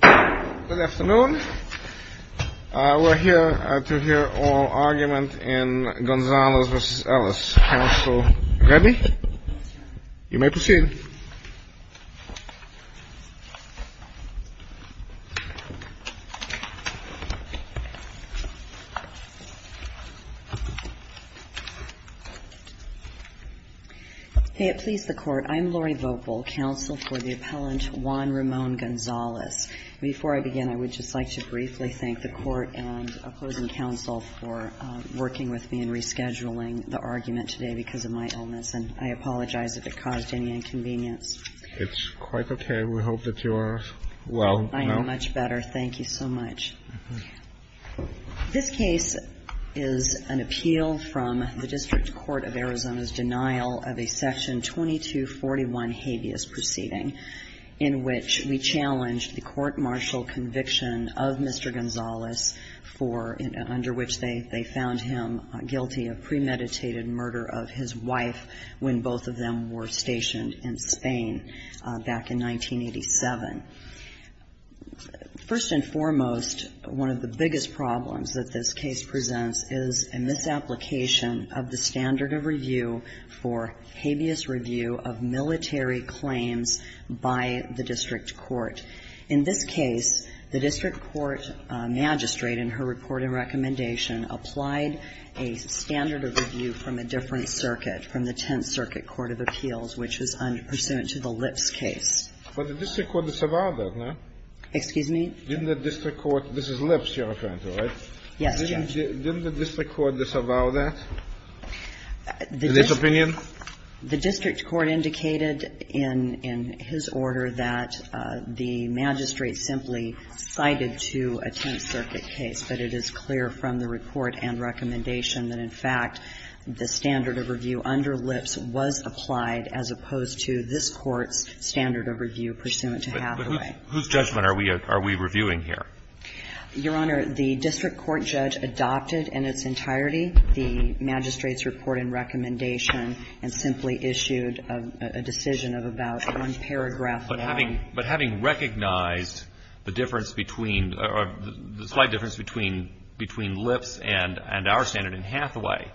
Good afternoon. We're here to hear oral argument in Gonzalez v. Ellis. Council ready? You may proceed. May it please the Court, I'm Lori Vogel, counsel for the appellant Juan Ramon Gonzalez. Before I begin, I would just like to briefly thank the Court and opposing counsel for working with me in rescheduling the argument today because of my illness. And I apologize if it caused any inconvenience. It's quite okay. We hope that you are well. I am much better. Thank you so much. This case is an appeal from the District Court of Arizona's denial of a Section 2241 habeas proceeding in which we challenged the court-martial conviction of Mr. Gonzalez for under which they found him guilty of premeditated murder of his wife when both of them were stationed in Spain back in 1987. First and foremost, one of the biggest problems that this case presents is a misapplication of the standard of review for habeas review of military claims by the district court. In this case, the district court magistrate in her report and recommendation applied a standard of review from a different circuit, from the Tenth Circuit Court of Appeals, which is pursuant to the Lips case. But the district court disavowed that, no? Excuse me? Didn't the district court – this is Lips you're referring to, right? Yes, Judge. Didn't the district court disavow that? In this opinion? The district court indicated in his order that the magistrate simply cited to a Tenth Circuit case, but it is clear from the report and recommendation that, in fact, the standard of review under Lips was applied as opposed to this Court's standard of review pursuant to Hathaway. But whose judgment are we reviewing here? Your Honor, the district court judge adopted in its entirety the magistrate's report and recommendation and simply issued a decision of about one paragraph long. But having recognized the difference between – the slight difference between Lips and our standard and Hathaway,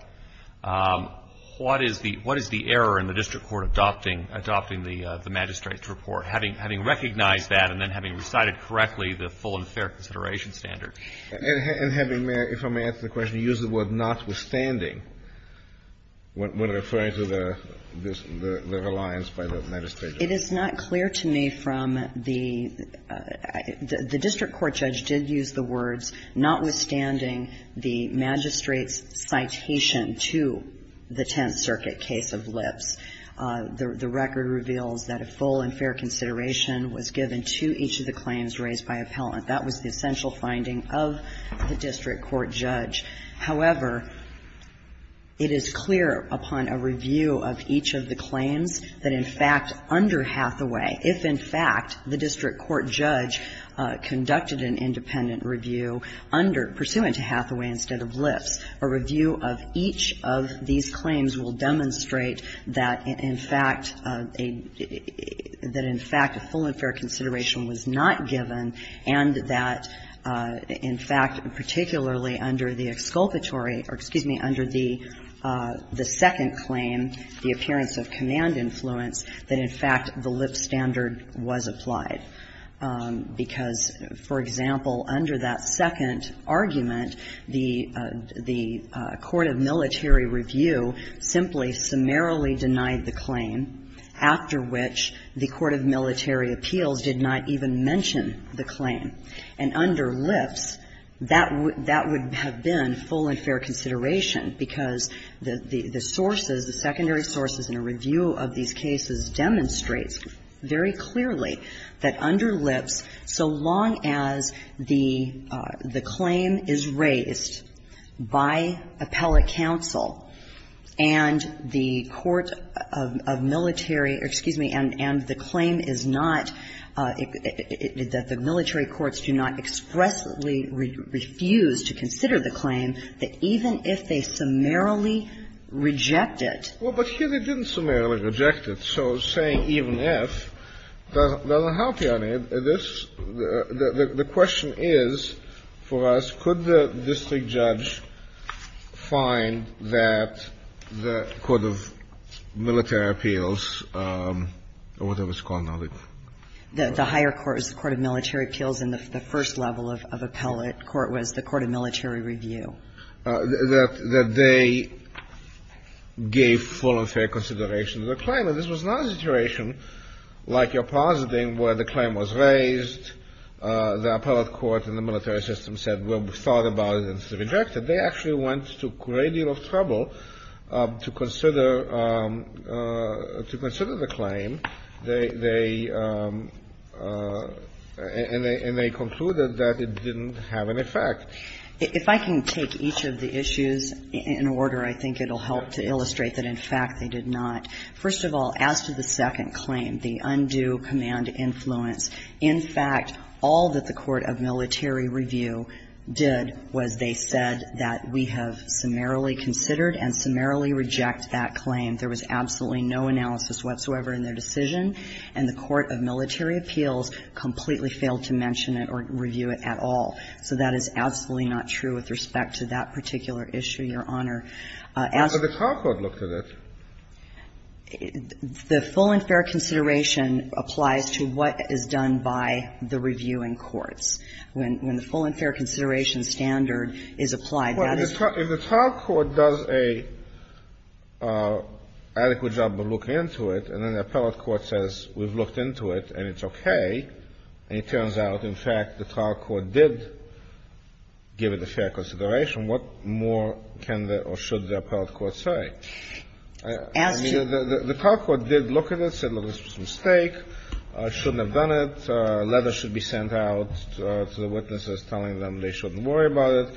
what is the error in the district court adopting the magistrate's report, having recognized that and then having recited correctly the full and fair consideration standard? And having – if I may answer the question, you used the word notwithstanding when referring to the – the reliance by the magistrate. It is not clear to me from the – the district court judge did use the words notwithstanding the magistrate's citation to the Tenth Circuit case of Lips. The record reveals that a full and fair consideration was given to each of the claims raised by appellant. That was the essential finding of the district court judge. However, it is clear upon a review of each of the claims that in fact under Hathaway, if in fact the district court judge conducted an independent review under – pursuant to Hathaway instead of Lips, a review of each of these claims will demonstrate that in fact a – that in fact a full and fair consideration was not given and that in fact, particularly under the exculpatory – or excuse me, under the second claim, the appearance of command influence, that in fact the Lips standard was applied. Because, for example, under that second argument, the – the court of military review simply summarily denied the claim, after which the court of military appeals did not even mention the claim. And under Lips, that would – that would have been full and fair consideration because the sources, the secondary sources in a review of these cases demonstrates very clearly that under Lips, so long as the claim is raised by appellate counsel and the court of military – or excuse me, and the claim is not – that the military courts do not expressly refuse to consider the claim, that even if they summarily reject it – Well, but here they didn't summarily reject it. So saying even if doesn't help you on it. This – the question is for us, could the district judge find that the court of military appeals, or whatever it's called now, the – The higher court is the court of military appeals, and the first level of appellate court was the court of military review. That they gave full and fair consideration to the claim. And this was not a situation, like you're positing, where the claim was raised, the appellate court and the military system said, well, we've thought about it, and it's rejected. They actually went to a great deal of trouble to consider – to consider the claim. They – and they concluded that it didn't have an effect. If I can take each of the issues in order, I think it will help to illustrate that in fact they did not. First of all, as to the second claim, the undue command influence, in fact, all that the court of military review did was they said that we have summarily considered and summarily reject that claim. There was absolutely no analysis whatsoever in their decision, and the court of military appeals completely failed to mention it or review it at all. So that is absolutely not true with respect to that particular issue, Your Honor. As – But the top court looked at it. The full and fair consideration applies to what is done by the reviewing courts. When the full and fair consideration standard is applied, that is the case. Well, if the trial court does a adequate job of looking into it, and then the appellate court says we've looked into it and it's okay, and it turns out, in fact, the trial court did give it a fair consideration, what more can the – or should the appellate court say? As to the – I mean, the top court did look at it, said, well, this was a mistake, shouldn't have done it, a letter should be sent out to the witnesses telling them they shouldn't worry about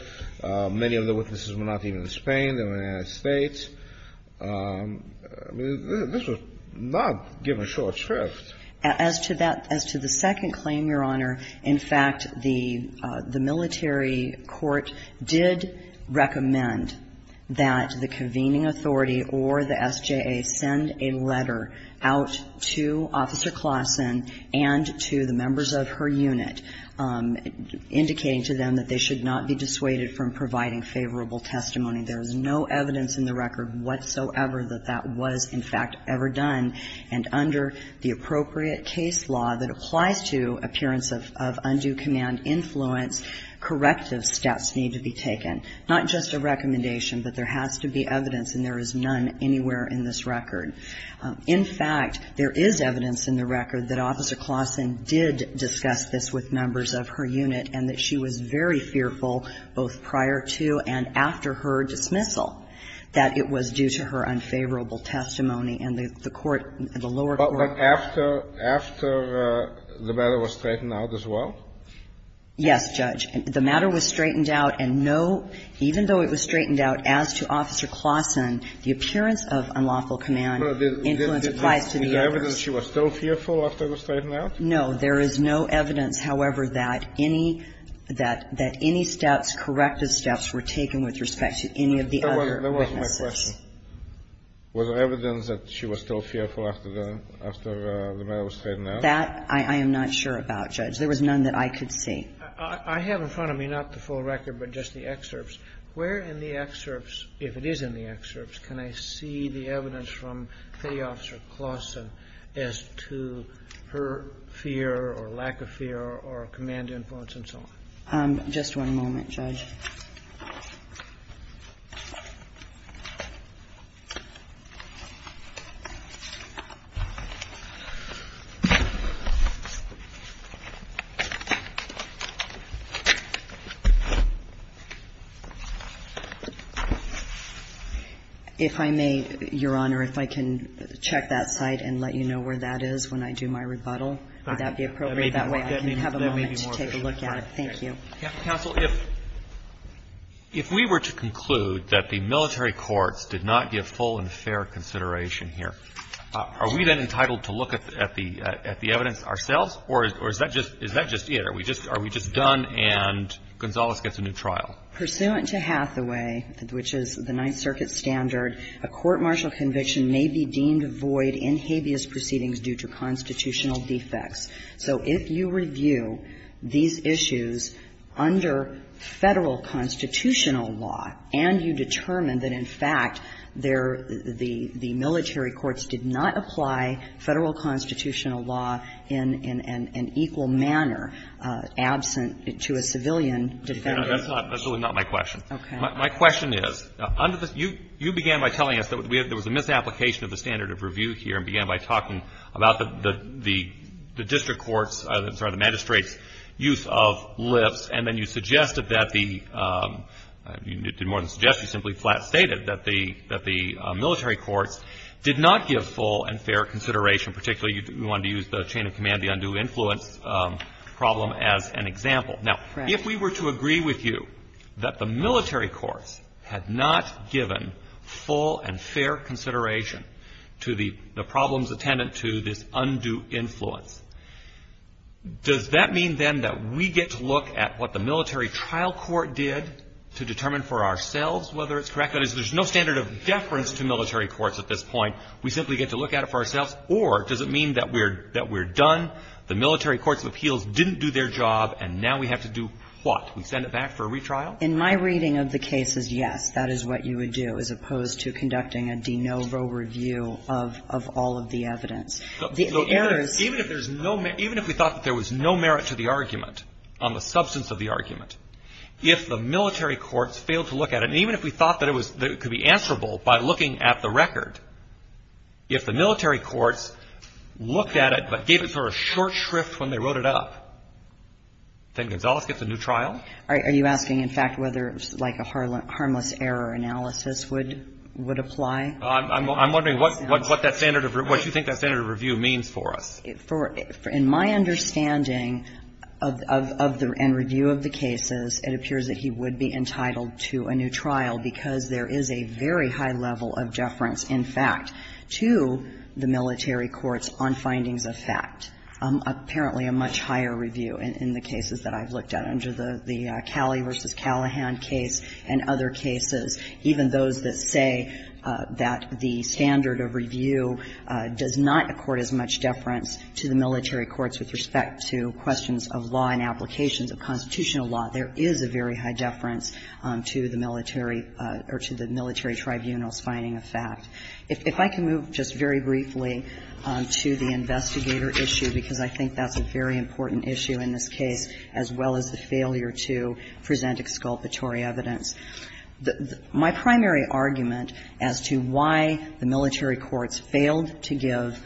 it. Many of the witnesses were not even in Spain, they were in the United States. I mean, this was not given short shrift. As to that – as to the second claim, Your Honor, in fact, the military court did recommend that the convening authority or the SJA send a letter out to Officer Klaassen and to the members of her unit indicating to them that they should not be dissuaded from providing favorable testimony. There is no evidence in the record whatsoever that that was, in fact, ever done. And under the appropriate case law that applies to appearance of undue command influence, corrective steps need to be taken. Not just a recommendation, but there has to be evidence, and there is none anywhere in this record. In fact, there is evidence in the record that Officer Klaassen did discuss this with members of her unit and that she was very fearful, both prior to and after her dismissal, that it was due to her unfavorable testimony and the court – the lower court – But after – after the matter was straightened out as well? Yes, Judge. The matter was straightened out, and no – even though it was straightened out as to Officer Klaassen, the appearance of unlawful command influence applies to the others. Was there evidence she was still fearful after it was straightened out? No. There is no evidence, however, that any – that any steps, corrective steps were taken with respect to any of the other witnesses. That wasn't my question. Was there evidence that she was still fearful after the – after the matter was straightened out? That I am not sure about, Judge. There was none that I could see. I have in front of me, not the full record, but just the excerpts. Where in the excerpts, if it is in the excerpts, can I see the evidence from Faye Officer Klaassen as to her fear or lack of fear or command influence and so on? Just one moment, Judge. If I may, Your Honor, if I can check that site and let you know where that is when I do my rebuttal, would that be appropriate? That way, I can have a moment to take a look at it. Thank you. If we were to conclude that the military courts did not give full and fair consideration here, are we then entitled to look at the evidence ourselves, or is that just – is that just it? Are we just – are we just done and Gonzales gets a new trial? Pursuant to Hathaway, which is the Ninth Circuit standard, a court-martial conviction may be deemed void in habeas proceedings due to constitutional defects. So if you review these issues under Federal constitutional law and you determine that, in fact, there – the military courts did not apply Federal constitutional law in an equal manner, absent to a civilian defendant. That's not – that's really not my question. Okay. My question is, under the – you began by telling us that there was a misapplication of the standard of review here, and began by talking about the district court's – I'm sorry, the magistrate's use of lifts, and then you suggested that the – you did more than suggest, you simply flat-stated that the military courts did not give full and fair consideration, particularly you wanted to use the chain of command, the undue influence problem as an example. Now, if we were to agree with you that the military courts had not given full and fair consideration to the problems attendant to this undue influence, does that mean, then, that we get to look at what the military trial court did to determine for ourselves whether it's correct? That is, there's no standard of deference to military courts at this point. We simply get to look at it for ourselves, or does it mean that we're – that we're done, the military courts of appeals didn't do their job, and now we have to do what? We send it back for a retrial? In my reading of the cases, yes, that is what you would do, as opposed to conducting a de novo review of – of all of the evidence. The errors – Even if there's no – even if we thought that there was no merit to the argument on the substance of the argument, if the military courts failed to look at it, and even if we thought that it was – that it could be answerable by looking at the record, if the military courts looked at it but gave it for a short shrift when they wrote it up, then Gonzales gets a new trial? Are you asking, in fact, whether it's like a harmless error analysis would – would apply? I'm wondering what – what that standard of – what you think that standard of review means for us. For – in my understanding of – of the – and review of the cases, it appears that he would be entitled to a new trial because there is a very high level of deference, in fact, to the military courts on findings of fact. Apparently, a much higher review in the cases that I've looked at under the – the that the standard of review does not accord as much deference to the military courts with respect to questions of law and applications of constitutional law. There is a very high deference to the military – or to the military tribunal's finding of fact. If I can move just very briefly to the investigator issue, because I think that's a very important issue in this case, as well as the failure to present exculpatory evidence. The – my primary argument as to why the military courts failed to give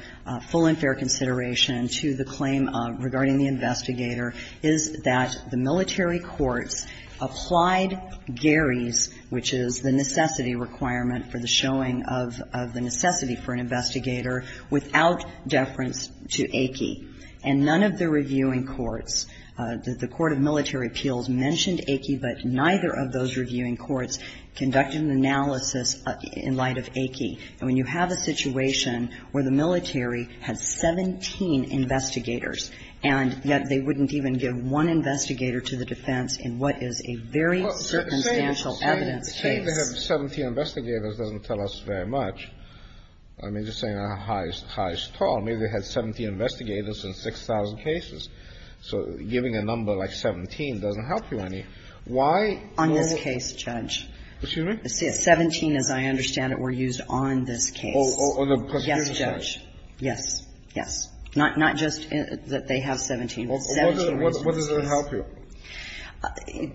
full and fair consideration to the claim regarding the investigator is that the military courts applied Gary's, which is the necessity requirement for the showing of – of the necessity for an investigator, without deference to Aki. And none of the reviewing courts, the court of military appeals, mentioned Aki, but neither of those reviewing courts conducted an analysis in light of Aki. And when you have a situation where the military has 17 investigators, and yet they wouldn't even give one investigator to the defense in what is a very circumstantial evidence case. Kennedy. Say they have 17 investigators doesn't tell us very much. I mean, just saying how high is tall. Maybe they had 17 investigators in 6,000 cases. So giving a number like 17 doesn't help you any. Why not? On this case, Judge. Excuse me? 17, as I understand it, were used on this case. Oh, on the prosecutor's case. Yes, Judge. Yes. Yes. Not just that they have 17. Well, what does it help you?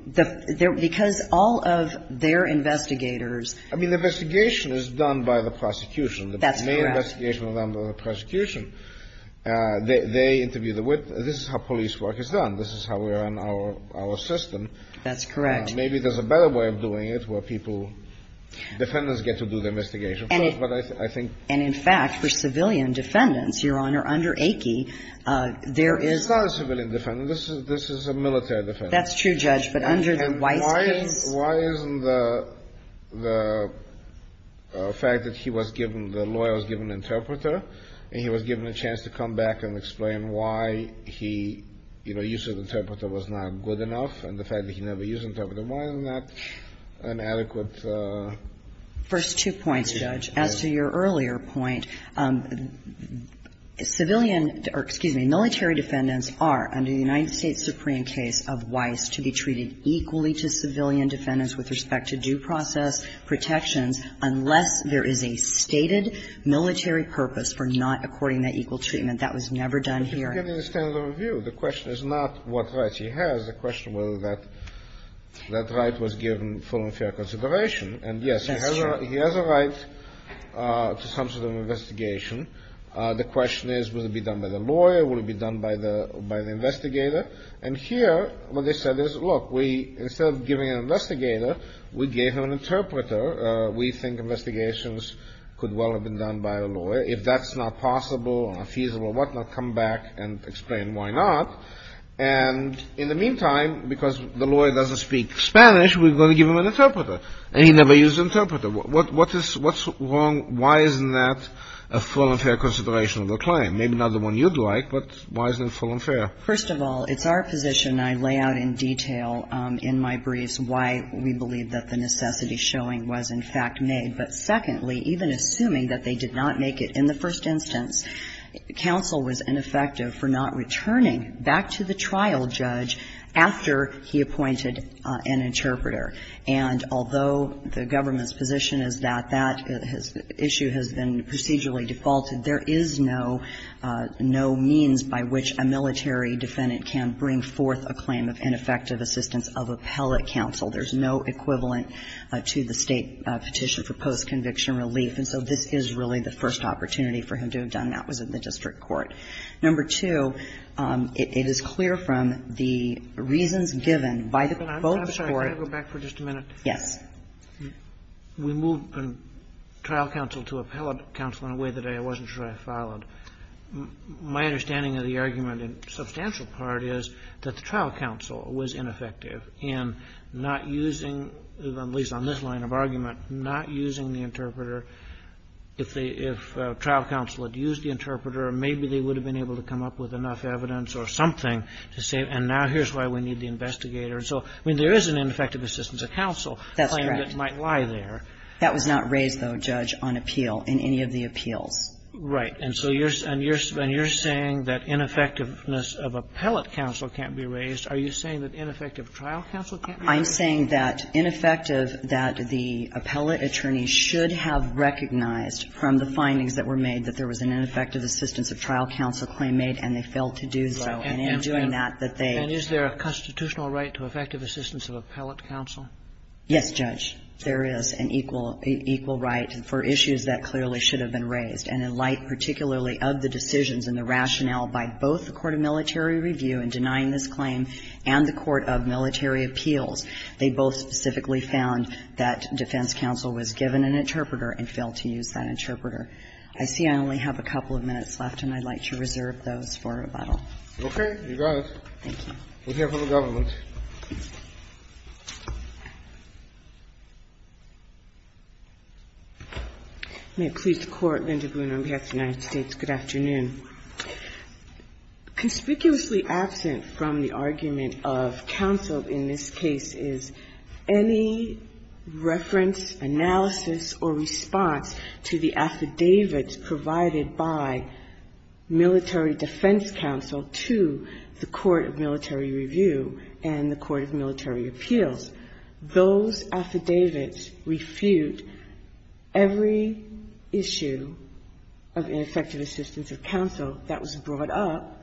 The – because all of their investigators – I mean, the investigation is done by the prosecution. That's correct. The main investigation is done by the prosecution. They interview the witness. This is how police work is done. This is how we are in our system. That's correct. Maybe there's a better way of doing it where people – defendants get to do the investigation. But I think – And in fact, for civilian defendants, Your Honor, under Akey, there is – He's not a civilian defendant. This is a military defendant. That's true, Judge. But under the White's case – And why isn't the fact that he was given – the lawyer was given an interpreter and he was given a chance to come back and explain why he – you know, the use of the First two points, Judge. As to your earlier point, civilian – or, excuse me, military defendants are, under the United States Supreme case of Weiss, to be treated equally to civilian defendants with respect to due process protections unless there is a stated military purpose for not according that equal treatment. That was never done here. But he's getting a standard of review. The question is not what rights he has. The question was whether that right was given full and fair consideration. And yes, he has a right to some sort of investigation. The question is, will it be done by the lawyer? Will it be done by the investigator? And here, what they said is, look, we – instead of giving an investigator, we gave him an interpreter. We think investigations could well have been done by a lawyer. If that's not possible or not feasible or whatnot, come back and explain why not. And in the meantime, because the lawyer doesn't speak Spanish, we're going to give him an interpreter. And he never used an interpreter. What is – what's wrong? Why isn't that a full and fair consideration of the claim? Maybe not the one you'd like, but why isn't it full and fair? First of all, it's our position – and I lay out in detail in my briefs why we believe that the necessity showing was, in fact, made. But secondly, even assuming that they did not make it in the first instance, counsel was ineffective for not returning back to the trial judge after he appointed an interpreter. And although the government's position is that that issue has been procedurally defaulted, there is no – no means by which a military defendant can bring forth a claim of ineffective assistance of appellate counsel. There's no equivalent to the State petition for post-conviction relief. And so this is really the first opportunity for him to have done that was in the district court. Number two, it is clear from the reasons given by both the court – I'm sorry. Can I go back for just a minute? Yes. We moved from trial counsel to appellate counsel in a way that I wasn't sure I followed. My understanding of the argument in substantial part is that the trial counsel was ineffective in not using – at least on this line of argument – not using the interpreter. If they – if trial counsel had used the interpreter, maybe they would have been able to come up with enough evidence or something to say, and now here's why we need the investigator. And so, I mean, there is an ineffective assistance of counsel claim that might lie there. That's correct. That was not raised, though, Judge, on appeal in any of the appeals. Right. And so you're – and you're saying that ineffectiveness of appellate counsel can't be raised. Are you saying that ineffective trial counsel can't be raised? I'm saying that ineffective – that the appellate attorney should have recognized from the findings that were made that there was an ineffective assistance of trial counsel claim made, and they failed to do so. And in doing that, that they – And is there a constitutional right to effective assistance of appellate counsel? Yes, Judge. There is an equal – equal right for issues that clearly should have been raised. And in light particularly of the decisions and the rationale by both the court of military review in denying this claim and the court of military appeals, they both specifically found that defense counsel was given an interpreter and failed to use that interpreter. I see I only have a couple of minutes left, and I'd like to reserve those for rebuttal. Okay. You got it. Thank you. We'll hear from the government. May it please the Court. Linda Boone, on behalf of the United States. Good afternoon. Conspicuously absent from the argument of counsel in this case is any reference, analysis, or response to the affidavits provided by military defense counsel to the court of military review and the court of military appeals. Those affidavits refute every issue of ineffective assistance of counsel that was brought up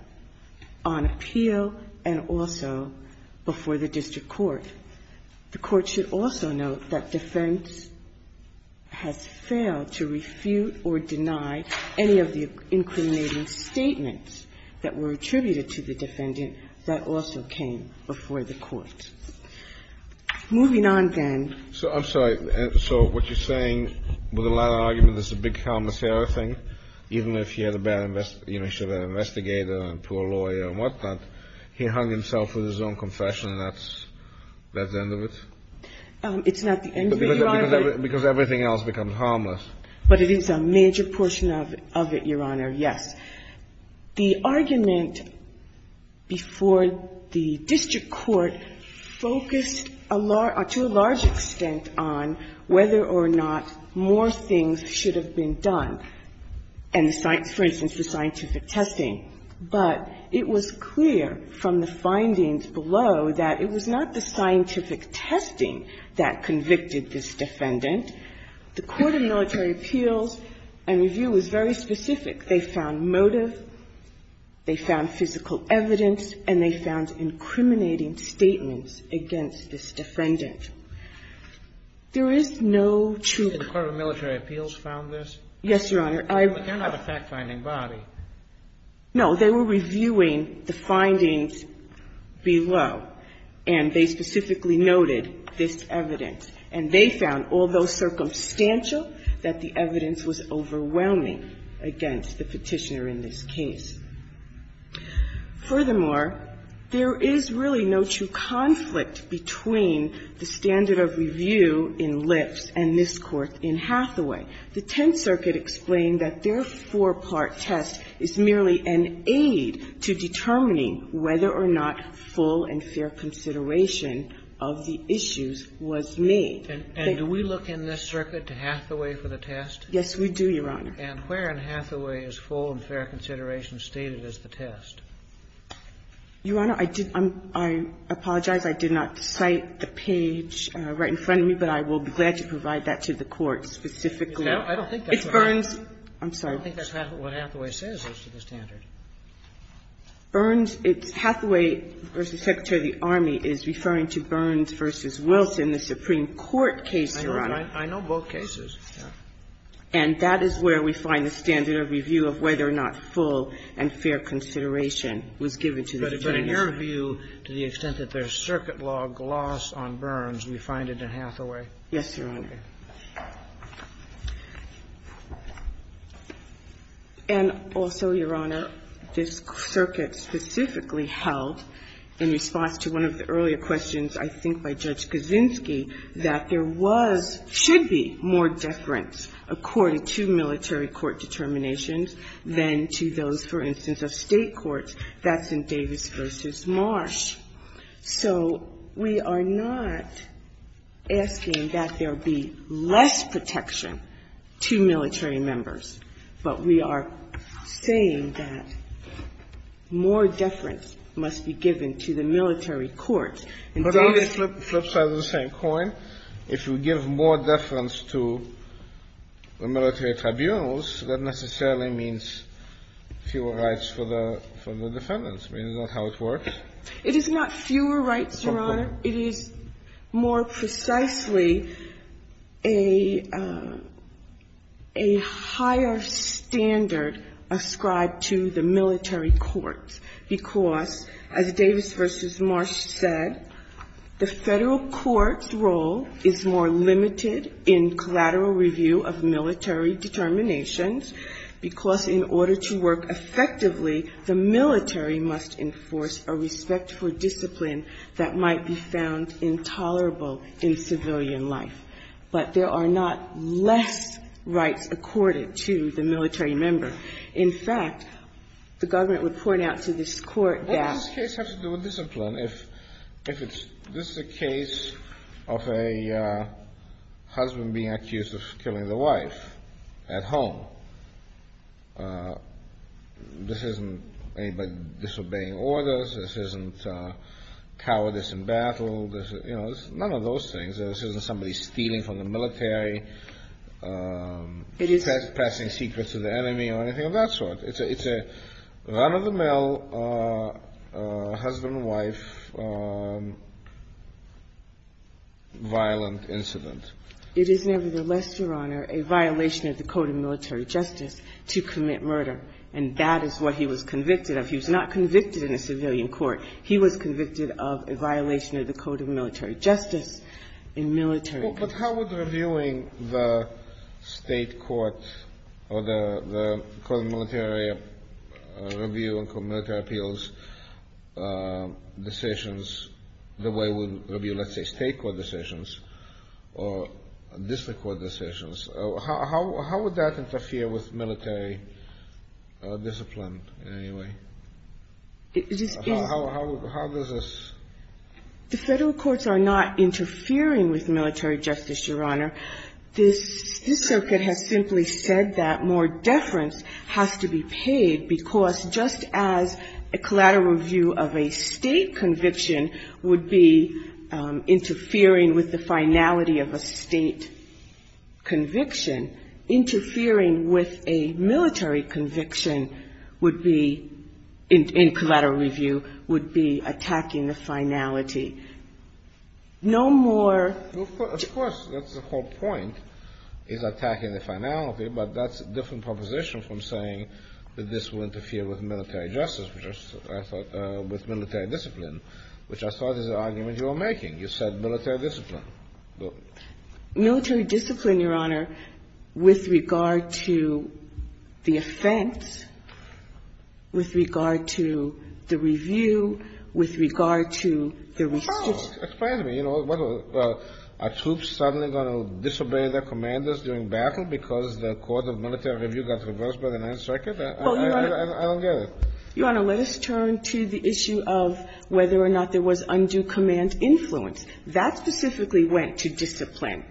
on appeal and also before the district court. The court should also note that defense has failed to refute or deny any of the incriminating statements that were attributed to the defendant that also came before the court. Moving on, then. I'm sorry. So what you're saying with a lot of argument is a big Kalamazera thing, even if you get a bad investigator and poor lawyer and whatnot, he hung himself with his own confession and that's the end of it? It's not the end of it, Your Honor. Because everything else becomes harmless. But it is a major portion of it, Your Honor, yes. The argument before the district court focused to a large extent on whether or not more things should have been done and the science, for instance, the scientific testing, but it was clear from the findings below that it was not the scientific testing that convicted this defendant. The court of military appeals and review was very specific. They found motive, they found physical evidence, and they found incriminating statements against this defendant. There is no truth. The court of military appeals found this? Yes, Your Honor. But they're not a fact-finding body. No. They were reviewing the findings below and they specifically noted this evidence and they found, although circumstantial, that the evidence was overwhelming against the Petitioner in this case. Furthermore, there is really no true conflict between the standard of review in Lips and this Court in Hathaway. The Tenth Circuit explained that their four-part test is merely an aid to determining whether or not full and fair consideration of the issues was made. And do we look in this circuit to Hathaway for the test? Yes, we do, Your Honor. And where in Hathaway is full and fair consideration stated as the test? Your Honor, I did not – I apologize, I did not cite the page right in front of me, but I will be glad to provide that to the Court specifically. I don't think that's what Hathaway says is to the standard. Burns – it's Hathaway v. Secretary of the Army is referring to Burns v. Wilson, the Supreme Court case, Your Honor. I know both cases. And that is where we find the standard of review of whether or not full and fair consideration was given to the Petitioner. But in your view, to the extent that there's circuit law glossed on Burns, we find it in Hathaway. Yes, Your Honor. And also, Your Honor, this circuit specifically held, in response to one of the earlier questions, I think by Judge Kaczynski, that there was – should be more definition of deference according to military court determinations than to those, for instance, of state courts. That's in Davis v. Marsh. So we are not asking that there be less protection to military members, but we are saying that more deference must be given to the military courts. But don't they flip sides of the same coin? If you give more deference to the military tribunals, that necessarily means fewer rights for the defendants. I mean, is that how it works? It is not fewer rights, Your Honor. It is more precisely a higher standard ascribed to the military courts. Because, as Davis v. Marsh said, the federal court's role is more limited in collateral review of military determinations, because in order to work effectively, the military must enforce a respect for discipline that might be found intolerable in civilian life. But there are not less rights accorded to the military member. In fact, the government would point out to this court that- Well, this case has to do with discipline. If this is a case of a husband being accused of killing the wife at home, this isn't anybody disobeying orders. This isn't cowardice in battle. You know, it's none of those things. This isn't somebody stealing from the military, passing secrets to the enemy or anything of that sort. It's a run-of-the-mill husband-wife violent incident. It is nevertheless, Your Honor, a violation of the code of military justice to commit murder, and that is what he was convicted of. He was not convicted in a civilian court. He was convicted of a violation of the code of military justice in military court. But how would reviewing the state court or the court of military review and military appeals decisions, the way we review, let's say, state court decisions or district court decisions, how would that interfere with military discipline in any way? How does this- The federal courts are not interfering with military justice, Your Honor. This circuit has simply said that more deference has to be paid because just as a collateral review of a state conviction would be interfering with the finality of a state conviction, interfering with a military conviction would be, in collateral review, would be attacking the finality. No more- Of course, that's the whole point, is attacking the finality, but that's a different proposition from saying that this will interfere with military justice, which I thought was military discipline, which I thought is the argument you were making. You said military discipline. Military discipline, Your Honor, with regard to the offense, with regard to the review, with regard to the restitution- Oh, explain to me. Are troops suddenly going to disobey their commanders during battle because the court of military review got reversed by the Ninth Circuit? I don't get it. Your Honor, let us turn to the issue of whether or not there was undue command influence. That specifically went to discipline.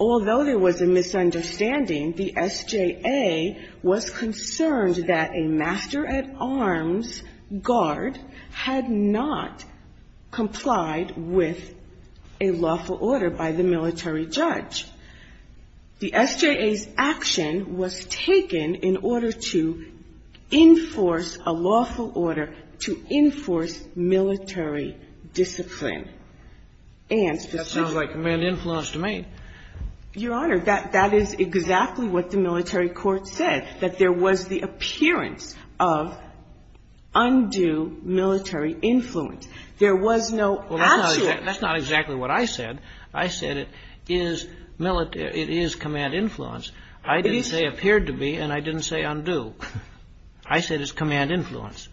Although there was a misunderstanding, the SJA was concerned that a master-at-arms guard had not complied with a lawful order by the military judge. The SJA's action was taken in order to enforce a lawful order to enforce military discipline. And specifically- That sounds like command influence to me. Your Honor, that is exactly what the military court said, that there was the appearance of undue military influence. There was no actual- Well, that's not exactly what I said. I said it is military – it is command influence. I didn't say appeared to be, and I didn't say undue. I said it's command influence.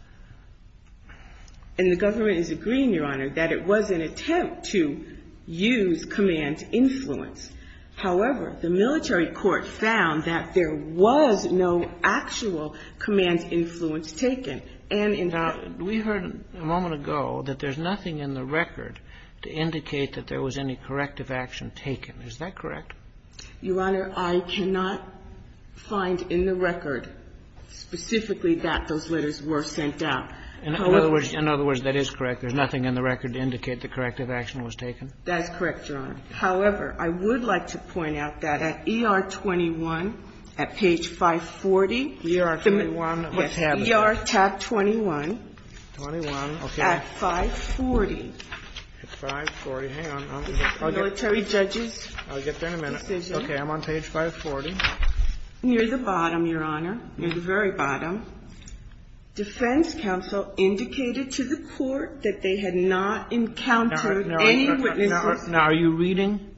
And the government is agreeing, Your Honor, that it was an attempt to use command influence. However, the military court found that there was no actual command influence taken. And in fact- Now, we heard a moment ago that there's nothing in the record to indicate that there was any corrective action taken. Is that correct? Your Honor, I cannot find in the record specifically that those letters were sent out. In other words, that is correct. There's nothing in the record to indicate that corrective action was taken? That is correct, Your Honor. However, I would like to point out that at ER 21, at page 540- ER 21. What's happening? Yes. ER tab 21. 21. Okay. At 540. At 540. Hang on. This is the military judge's decision. I'll get there in a minute. Okay. I'm on page 540. Near the bottom, Your Honor. Near the very bottom. Defense counsel indicated to the court that they had not encountered any witnesses- Now, are you reading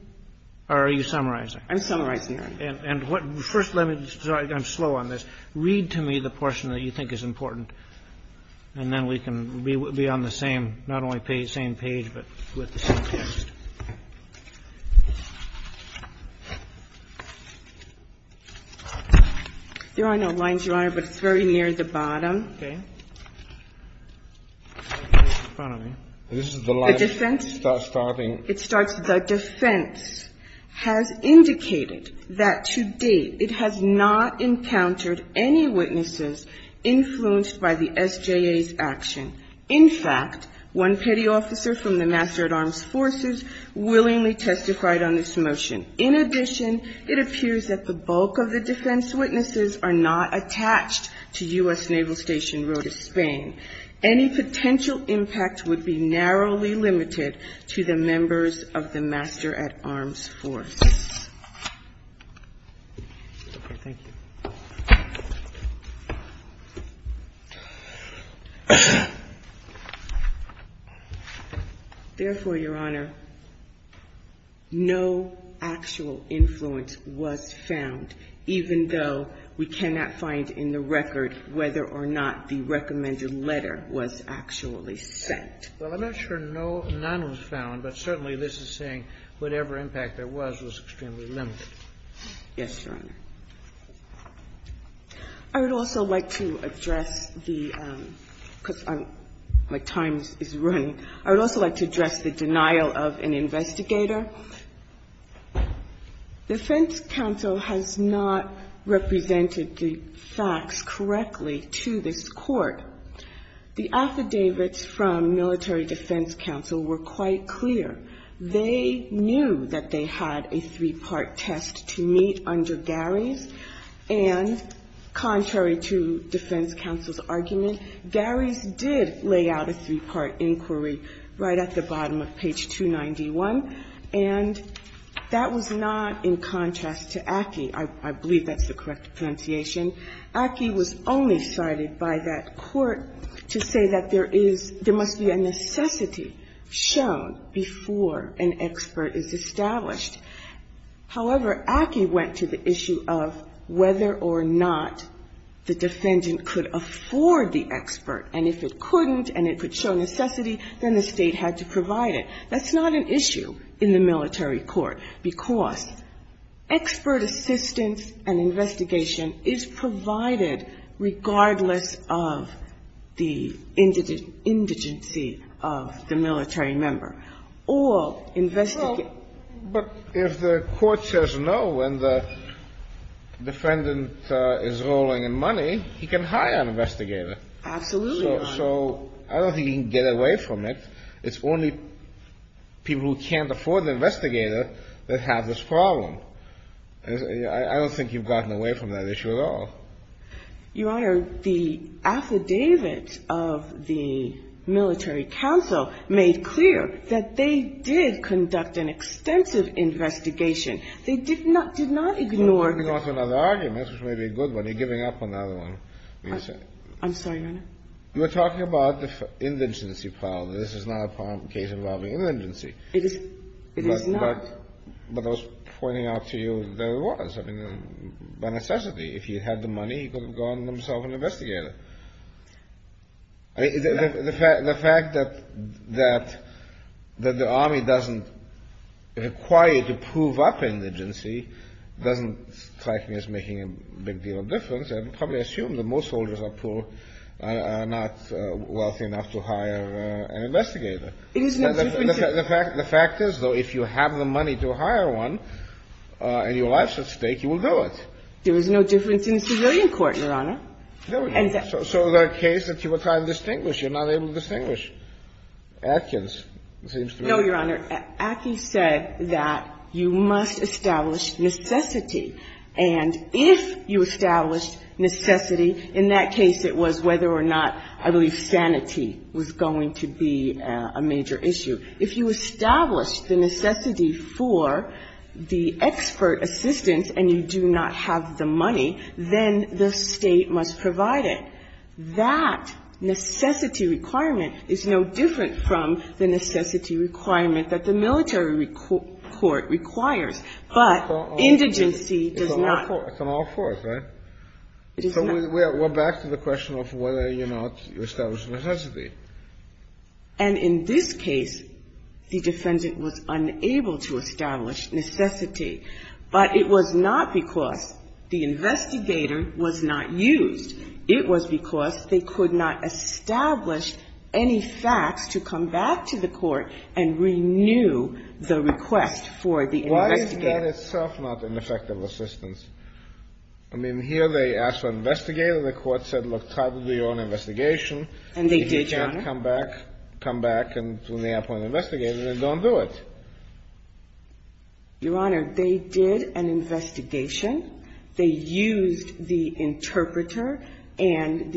or are you summarizing? I'm summarizing, Your Honor. And first let me, I'm slow on this. Read to me the portion that you think is important. And then we can be on the same, not only same page, but with the same text. There are no lines, Your Honor, but it's very near the bottom. Okay. It's in front of me. This is the line- The defense? It starts, the defense has indicated that to date it has not encountered any witnesses influenced by the SJA's action. In fact, one petty officer from the Master at Arms Forces willingly testified on this motion. In addition, it appears that the bulk of the defense witnesses are not attached to U.S. Naval Station Rota, Spain. Any potential impact would be narrowly limited to the members of the Master at Arms Forces. Okay. Thank you. Therefore, Your Honor, no actual influence was found, even though we cannot find in the record whether or not the recommended letter was actually sent. Well, I'm not sure none was found, but certainly this is saying whatever impact there was was extremely limited. Yes, Your Honor. I would also like to address the, because my time is running, I would also like to address the denial of an investigator. The defense counsel has not represented the facts correctly to this court. The affidavits from military defense counsel were quite clear. They knew that they had a three-part test to meet under Garry's, and contrary to defense counsel's argument, Garry's did lay out a three-part inquiry right at the bottom of page 291, and that was not in contrast to Aki. I believe that's the correct pronunciation. Aki was only cited by that court to say that there is, there must be a necessity shown before an expert is established. However, Aki went to the issue of whether or not the defendant could afford the expert, and if it couldn't and it could show necessity, then the State had to provide it. That's not an issue in the military court, because expert assistance and investigation is provided regardless of the indigent, indigency of the military member. All investigators. But if the court says no and the defendant is rolling in money, he can hire an investigator. Absolutely, Your Honor. So I don't think he can get away from it. It's only people who can't afford the investigator that have this problem. I don't think you've gotten away from that issue at all. Your Honor, the affidavit of the military counsel made clear that they did conduct an extensive investigation. They did not, did not ignore the court's argument. Well, there's also another argument, which may be a good one. You're giving up another one. I'm sorry, Your Honor. You're talking about the indigency problem. This is not a case involving indigency. It is not. But I was pointing out to you that it was. I mean, by necessity. If he had the money, he could have gotten himself an investigator. The fact that the Army doesn't require you to prove up indigency doesn't strike me as making a big deal of difference. I would probably assume that most soldiers are not wealthy enough to hire an investigator. It is no difference. The fact is, though, if you have the money to hire one and your life's at stake, you will do it. There is no difference in the civilian court, Your Honor. So the case that you were trying to distinguish, you're not able to distinguish. Atkins seems to be. No, Your Honor. Atkins said that you must establish necessity. And if you establish necessity, in that case it was whether or not, I believe, to be a major issue. If you establish the necessity for the expert assistance and you do not have the money, then the State must provide it. That necessity requirement is no different from the necessity requirement that the military court requires. But indigency does not. It's an all-fourth, right? It is not. So we're back to the question of whether or not you establish necessity. And in this case, the defendant was unable to establish necessity. But it was not because the investigator was not used. It was because they could not establish any facts to come back to the court and renew the request for the investigator. Why is that itself not an effective assistance? I mean, here they asked for an investigator. The court said, look, try to do your own investigation. And they did, Your Honor. If you can't come back, come back and when they appoint an investigator, then don't do it. Your Honor, they did an investigation. They used the interpreter. And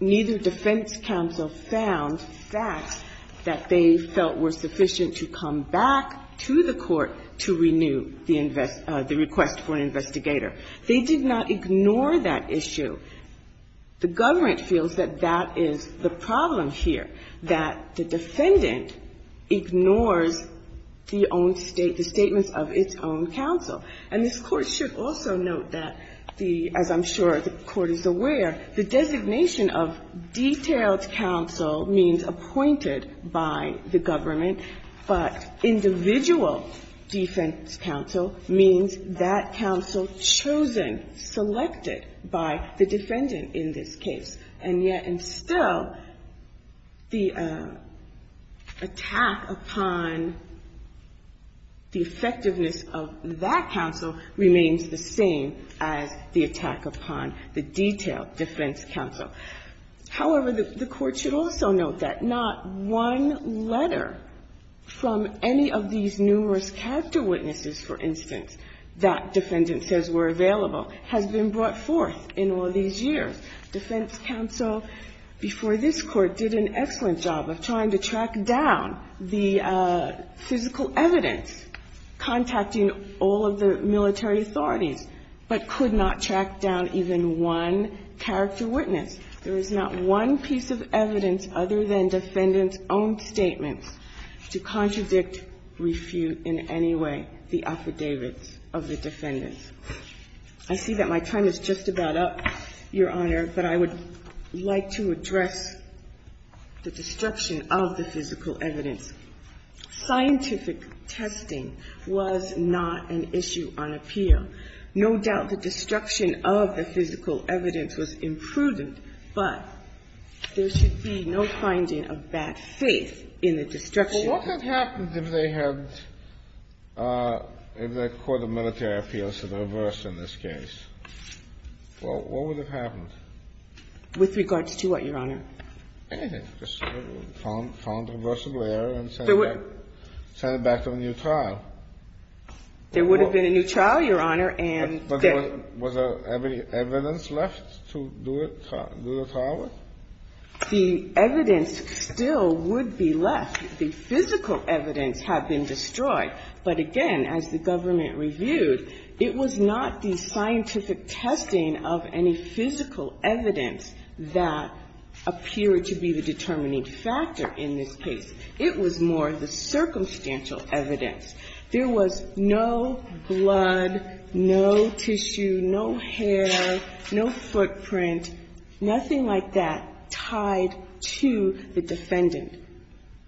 neither defense counsel found facts that they felt were sufficient to come back to the court to renew the request for an investigator. They did not ignore that issue. The government feels that that is the problem here, that the defendant ignores the own state, the statements of its own counsel. And this Court should also note that the, as I'm sure the Court is aware, the designation of detailed counsel means appointed by the government, but individual defense counsel means that counsel chosen, selected by the defendant in this case. And yet, and still, the attack upon the effectiveness of that counsel remains the same as the attack upon the detailed defense counsel. However, the Court should also note that not one letter from any of these numerous character witnesses, for instance, that defendant says were available, has been brought forth in all these years. Defense counsel before this Court did an excellent job of trying to track down the physical evidence contacting all of the military authorities, but could not track down even one character witness. There is not one piece of evidence other than defendant's own statements to contradict or refute in any way the affidavits of the defendant. I see that my time is just about up, Your Honor, but I would like to address the destruction of the physical evidence. Scientific testing was not an issue on appeal. No doubt the destruction of the physical evidence was imprudent, but there should be no finding of bad faith in the destruction. Well, what would happen if they had, if the Court of Military Appeals had reversed in this case? Well, what would have happened? With regards to what, Your Honor? Anything. Just found a reversible error and sent it back to a new trial. There would have been a new trial, Your Honor. And there was evidence left to do the trial with? The evidence still would be left. The physical evidence had been destroyed. But again, as the government reviewed, it was not the scientific testing of any physical evidence that appeared to be the determining factor in this case. It was more the circumstantial evidence. There was no blood, no tissue, no hair, no footprint, nothing like that. Tied to the defendant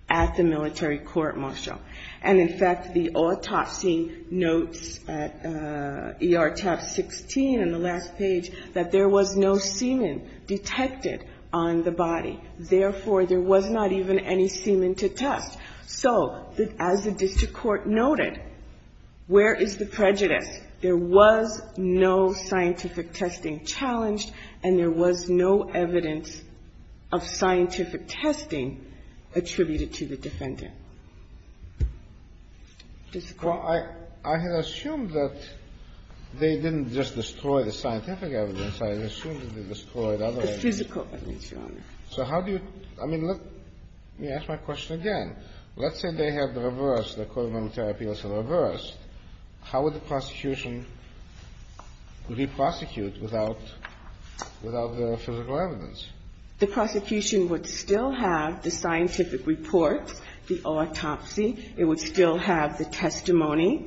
at the military court, Marshal. And in fact, the autopsy notes at ER tab 16 on the last page that there was no semen detected on the body. Therefore, there was not even any semen to test. So, as the district court noted, where is the prejudice? There was no scientific testing challenged, and there was no evidence of scientific testing attributed to the defendant. Well, I had assumed that they didn't just destroy the scientific evidence. I assumed that they destroyed other evidence. The physical evidence, Your Honor. So how do you, I mean, let me ask my question again. Let's say they had reversed, the code of military appeals had reversed. How would the prosecution re-prosecute without the physical evidence? The prosecution would still have the scientific report, the autopsy. It would still have the testimony.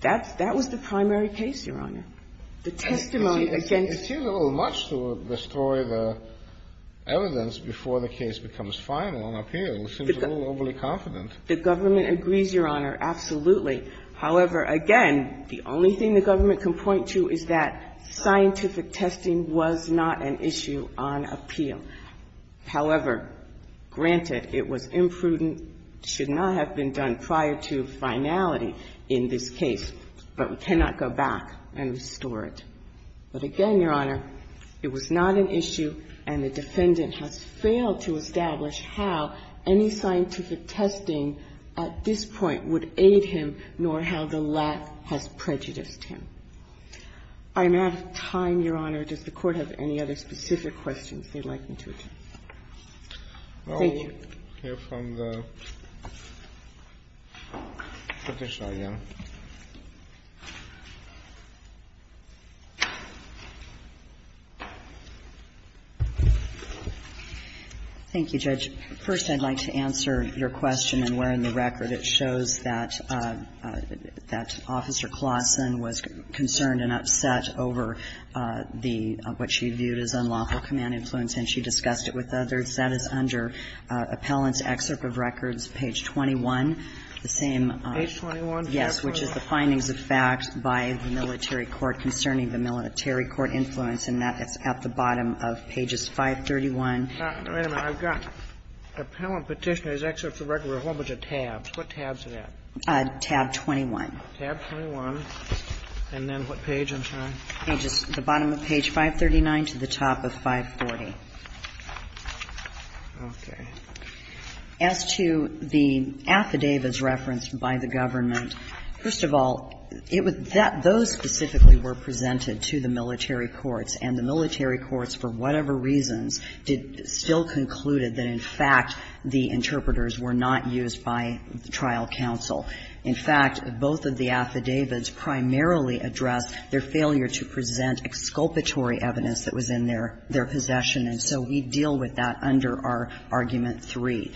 That was the primary case, Your Honor. The testimony against the court. It seems a little much to destroy the evidence before the case becomes final on appeal. It seems a little overly confident. The government agrees, Your Honor, absolutely. However, again, the only thing the government can point to is that scientific testing was not an issue on appeal. However, granted, it was imprudent, should not have been done prior to finality in this case. But we cannot go back and restore it. But again, Your Honor, it was not an issue, and the defendant has failed to establish how any scientific testing at this point would aid him, nor how the lack has prejudiced him. I'm out of time, Your Honor. Does the Court have any other specific questions they'd like me to address? Thank you. Let me hear from the petitioner again. Thank you, Judge. First, I'd like to answer your question in wearing the record. It shows that Officer Claussen was concerned and upset over what she viewed as unlawful evidence. That is under Appellant's Excerpt of Records, page 21, the same. Page 21? Yes, which is the findings of fact by the military court concerning the military court influence, and that is at the bottom of pages 531. Wait a minute. I've got Appellant Petitioner's Excerpt of Records with a whole bunch of tabs. What tabs is that? Tab 21. Tab 21. And then what page? I'm sorry. The bottom of page 539 to the top of 540. Okay. As to the affidavits referenced by the government, first of all, it was that those specifically were presented to the military courts, and the military courts, for whatever reasons, still concluded that, in fact, the interpreters were not used by trial counsel. In fact, both of the affidavits primarily addressed their failure to present exculpatory evidence that was in their possession, and so we deal with that under our Argument 3.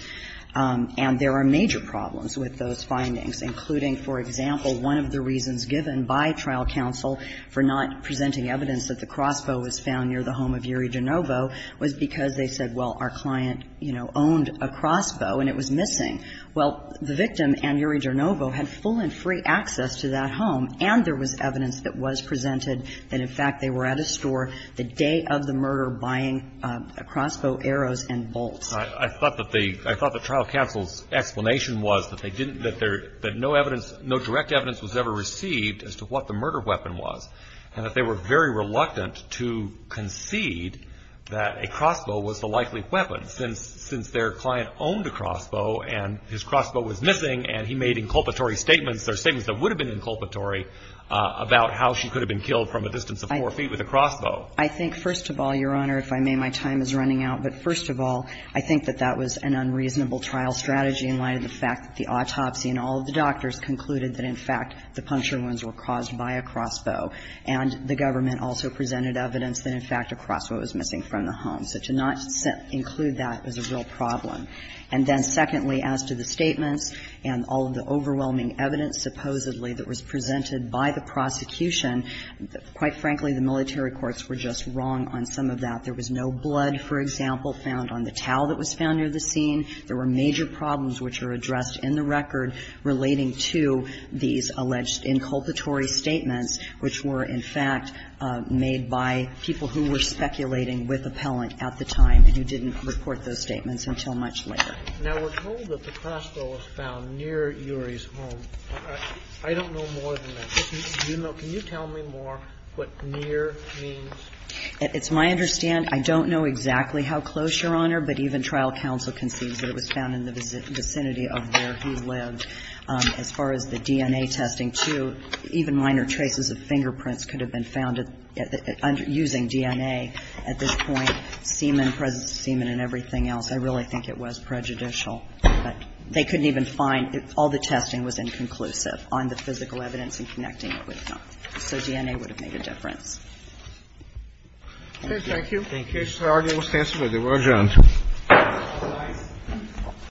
And there are major problems with those findings, including, for example, one of the reasons given by trial counsel for not presenting evidence that the crossbow was found near the home of Yuri Donovo was because they said, well, our client, you know, owned a crossbow and it was missing. Well, the victim and Yuri Donovo had full and free access to that home, and there was evidence that was presented that, in fact, they were at a store the day of the murder buying a crossbow, arrows, and bolts. I thought that the trial counsel's explanation was that no direct evidence was ever received as to what the murder weapon was, and that they were very reluctant to concede that a crossbow was the likely weapon, since their client owned a crossbow and his crossbow was missing, and he made inculpatory statements or statements that would have been inculpatory about how she could have been killed from a distance of four feet with a crossbow. I think, first of all, Your Honor, if I may, my time is running out. But, first of all, I think that that was an unreasonable trial strategy in light of the fact that the autopsy and all of the doctors concluded that, in fact, the puncture wounds were caused by a crossbow. And the government also presented evidence that, in fact, a crossbow was missing from the home. So to not include that is a real problem. And then, secondly, as to the statements and all of the overwhelming evidence supposedly that was presented by the prosecution, quite frankly, the military courts were just wrong on some of that. There was no blood, for example, found on the towel that was found near the scene. There were major problems which are addressed in the record relating to these alleged inculpatory statements, which were, in fact, made by people who were speculating with appellant at the time who didn't report those statements until much later. Now, we're told that the crossbow was found near Urey's home. I don't know more than that. Do you know, can you tell me more what near means? It's my understanding, I don't know exactly how close, Your Honor, but even trial counsel concedes that it was found in the vicinity of where he lived. As far as the DNA testing, too, even minor traces of fingerprints could have been found using DNA at this point, semen, present semen and everything else. I really think it was prejudicial. But they couldn't even find, all the testing was inconclusive on the physical evidence and connecting it with them. So DNA would have made a difference. Thank you. Thank you. The case has already been considered. We're adjourned. All rise.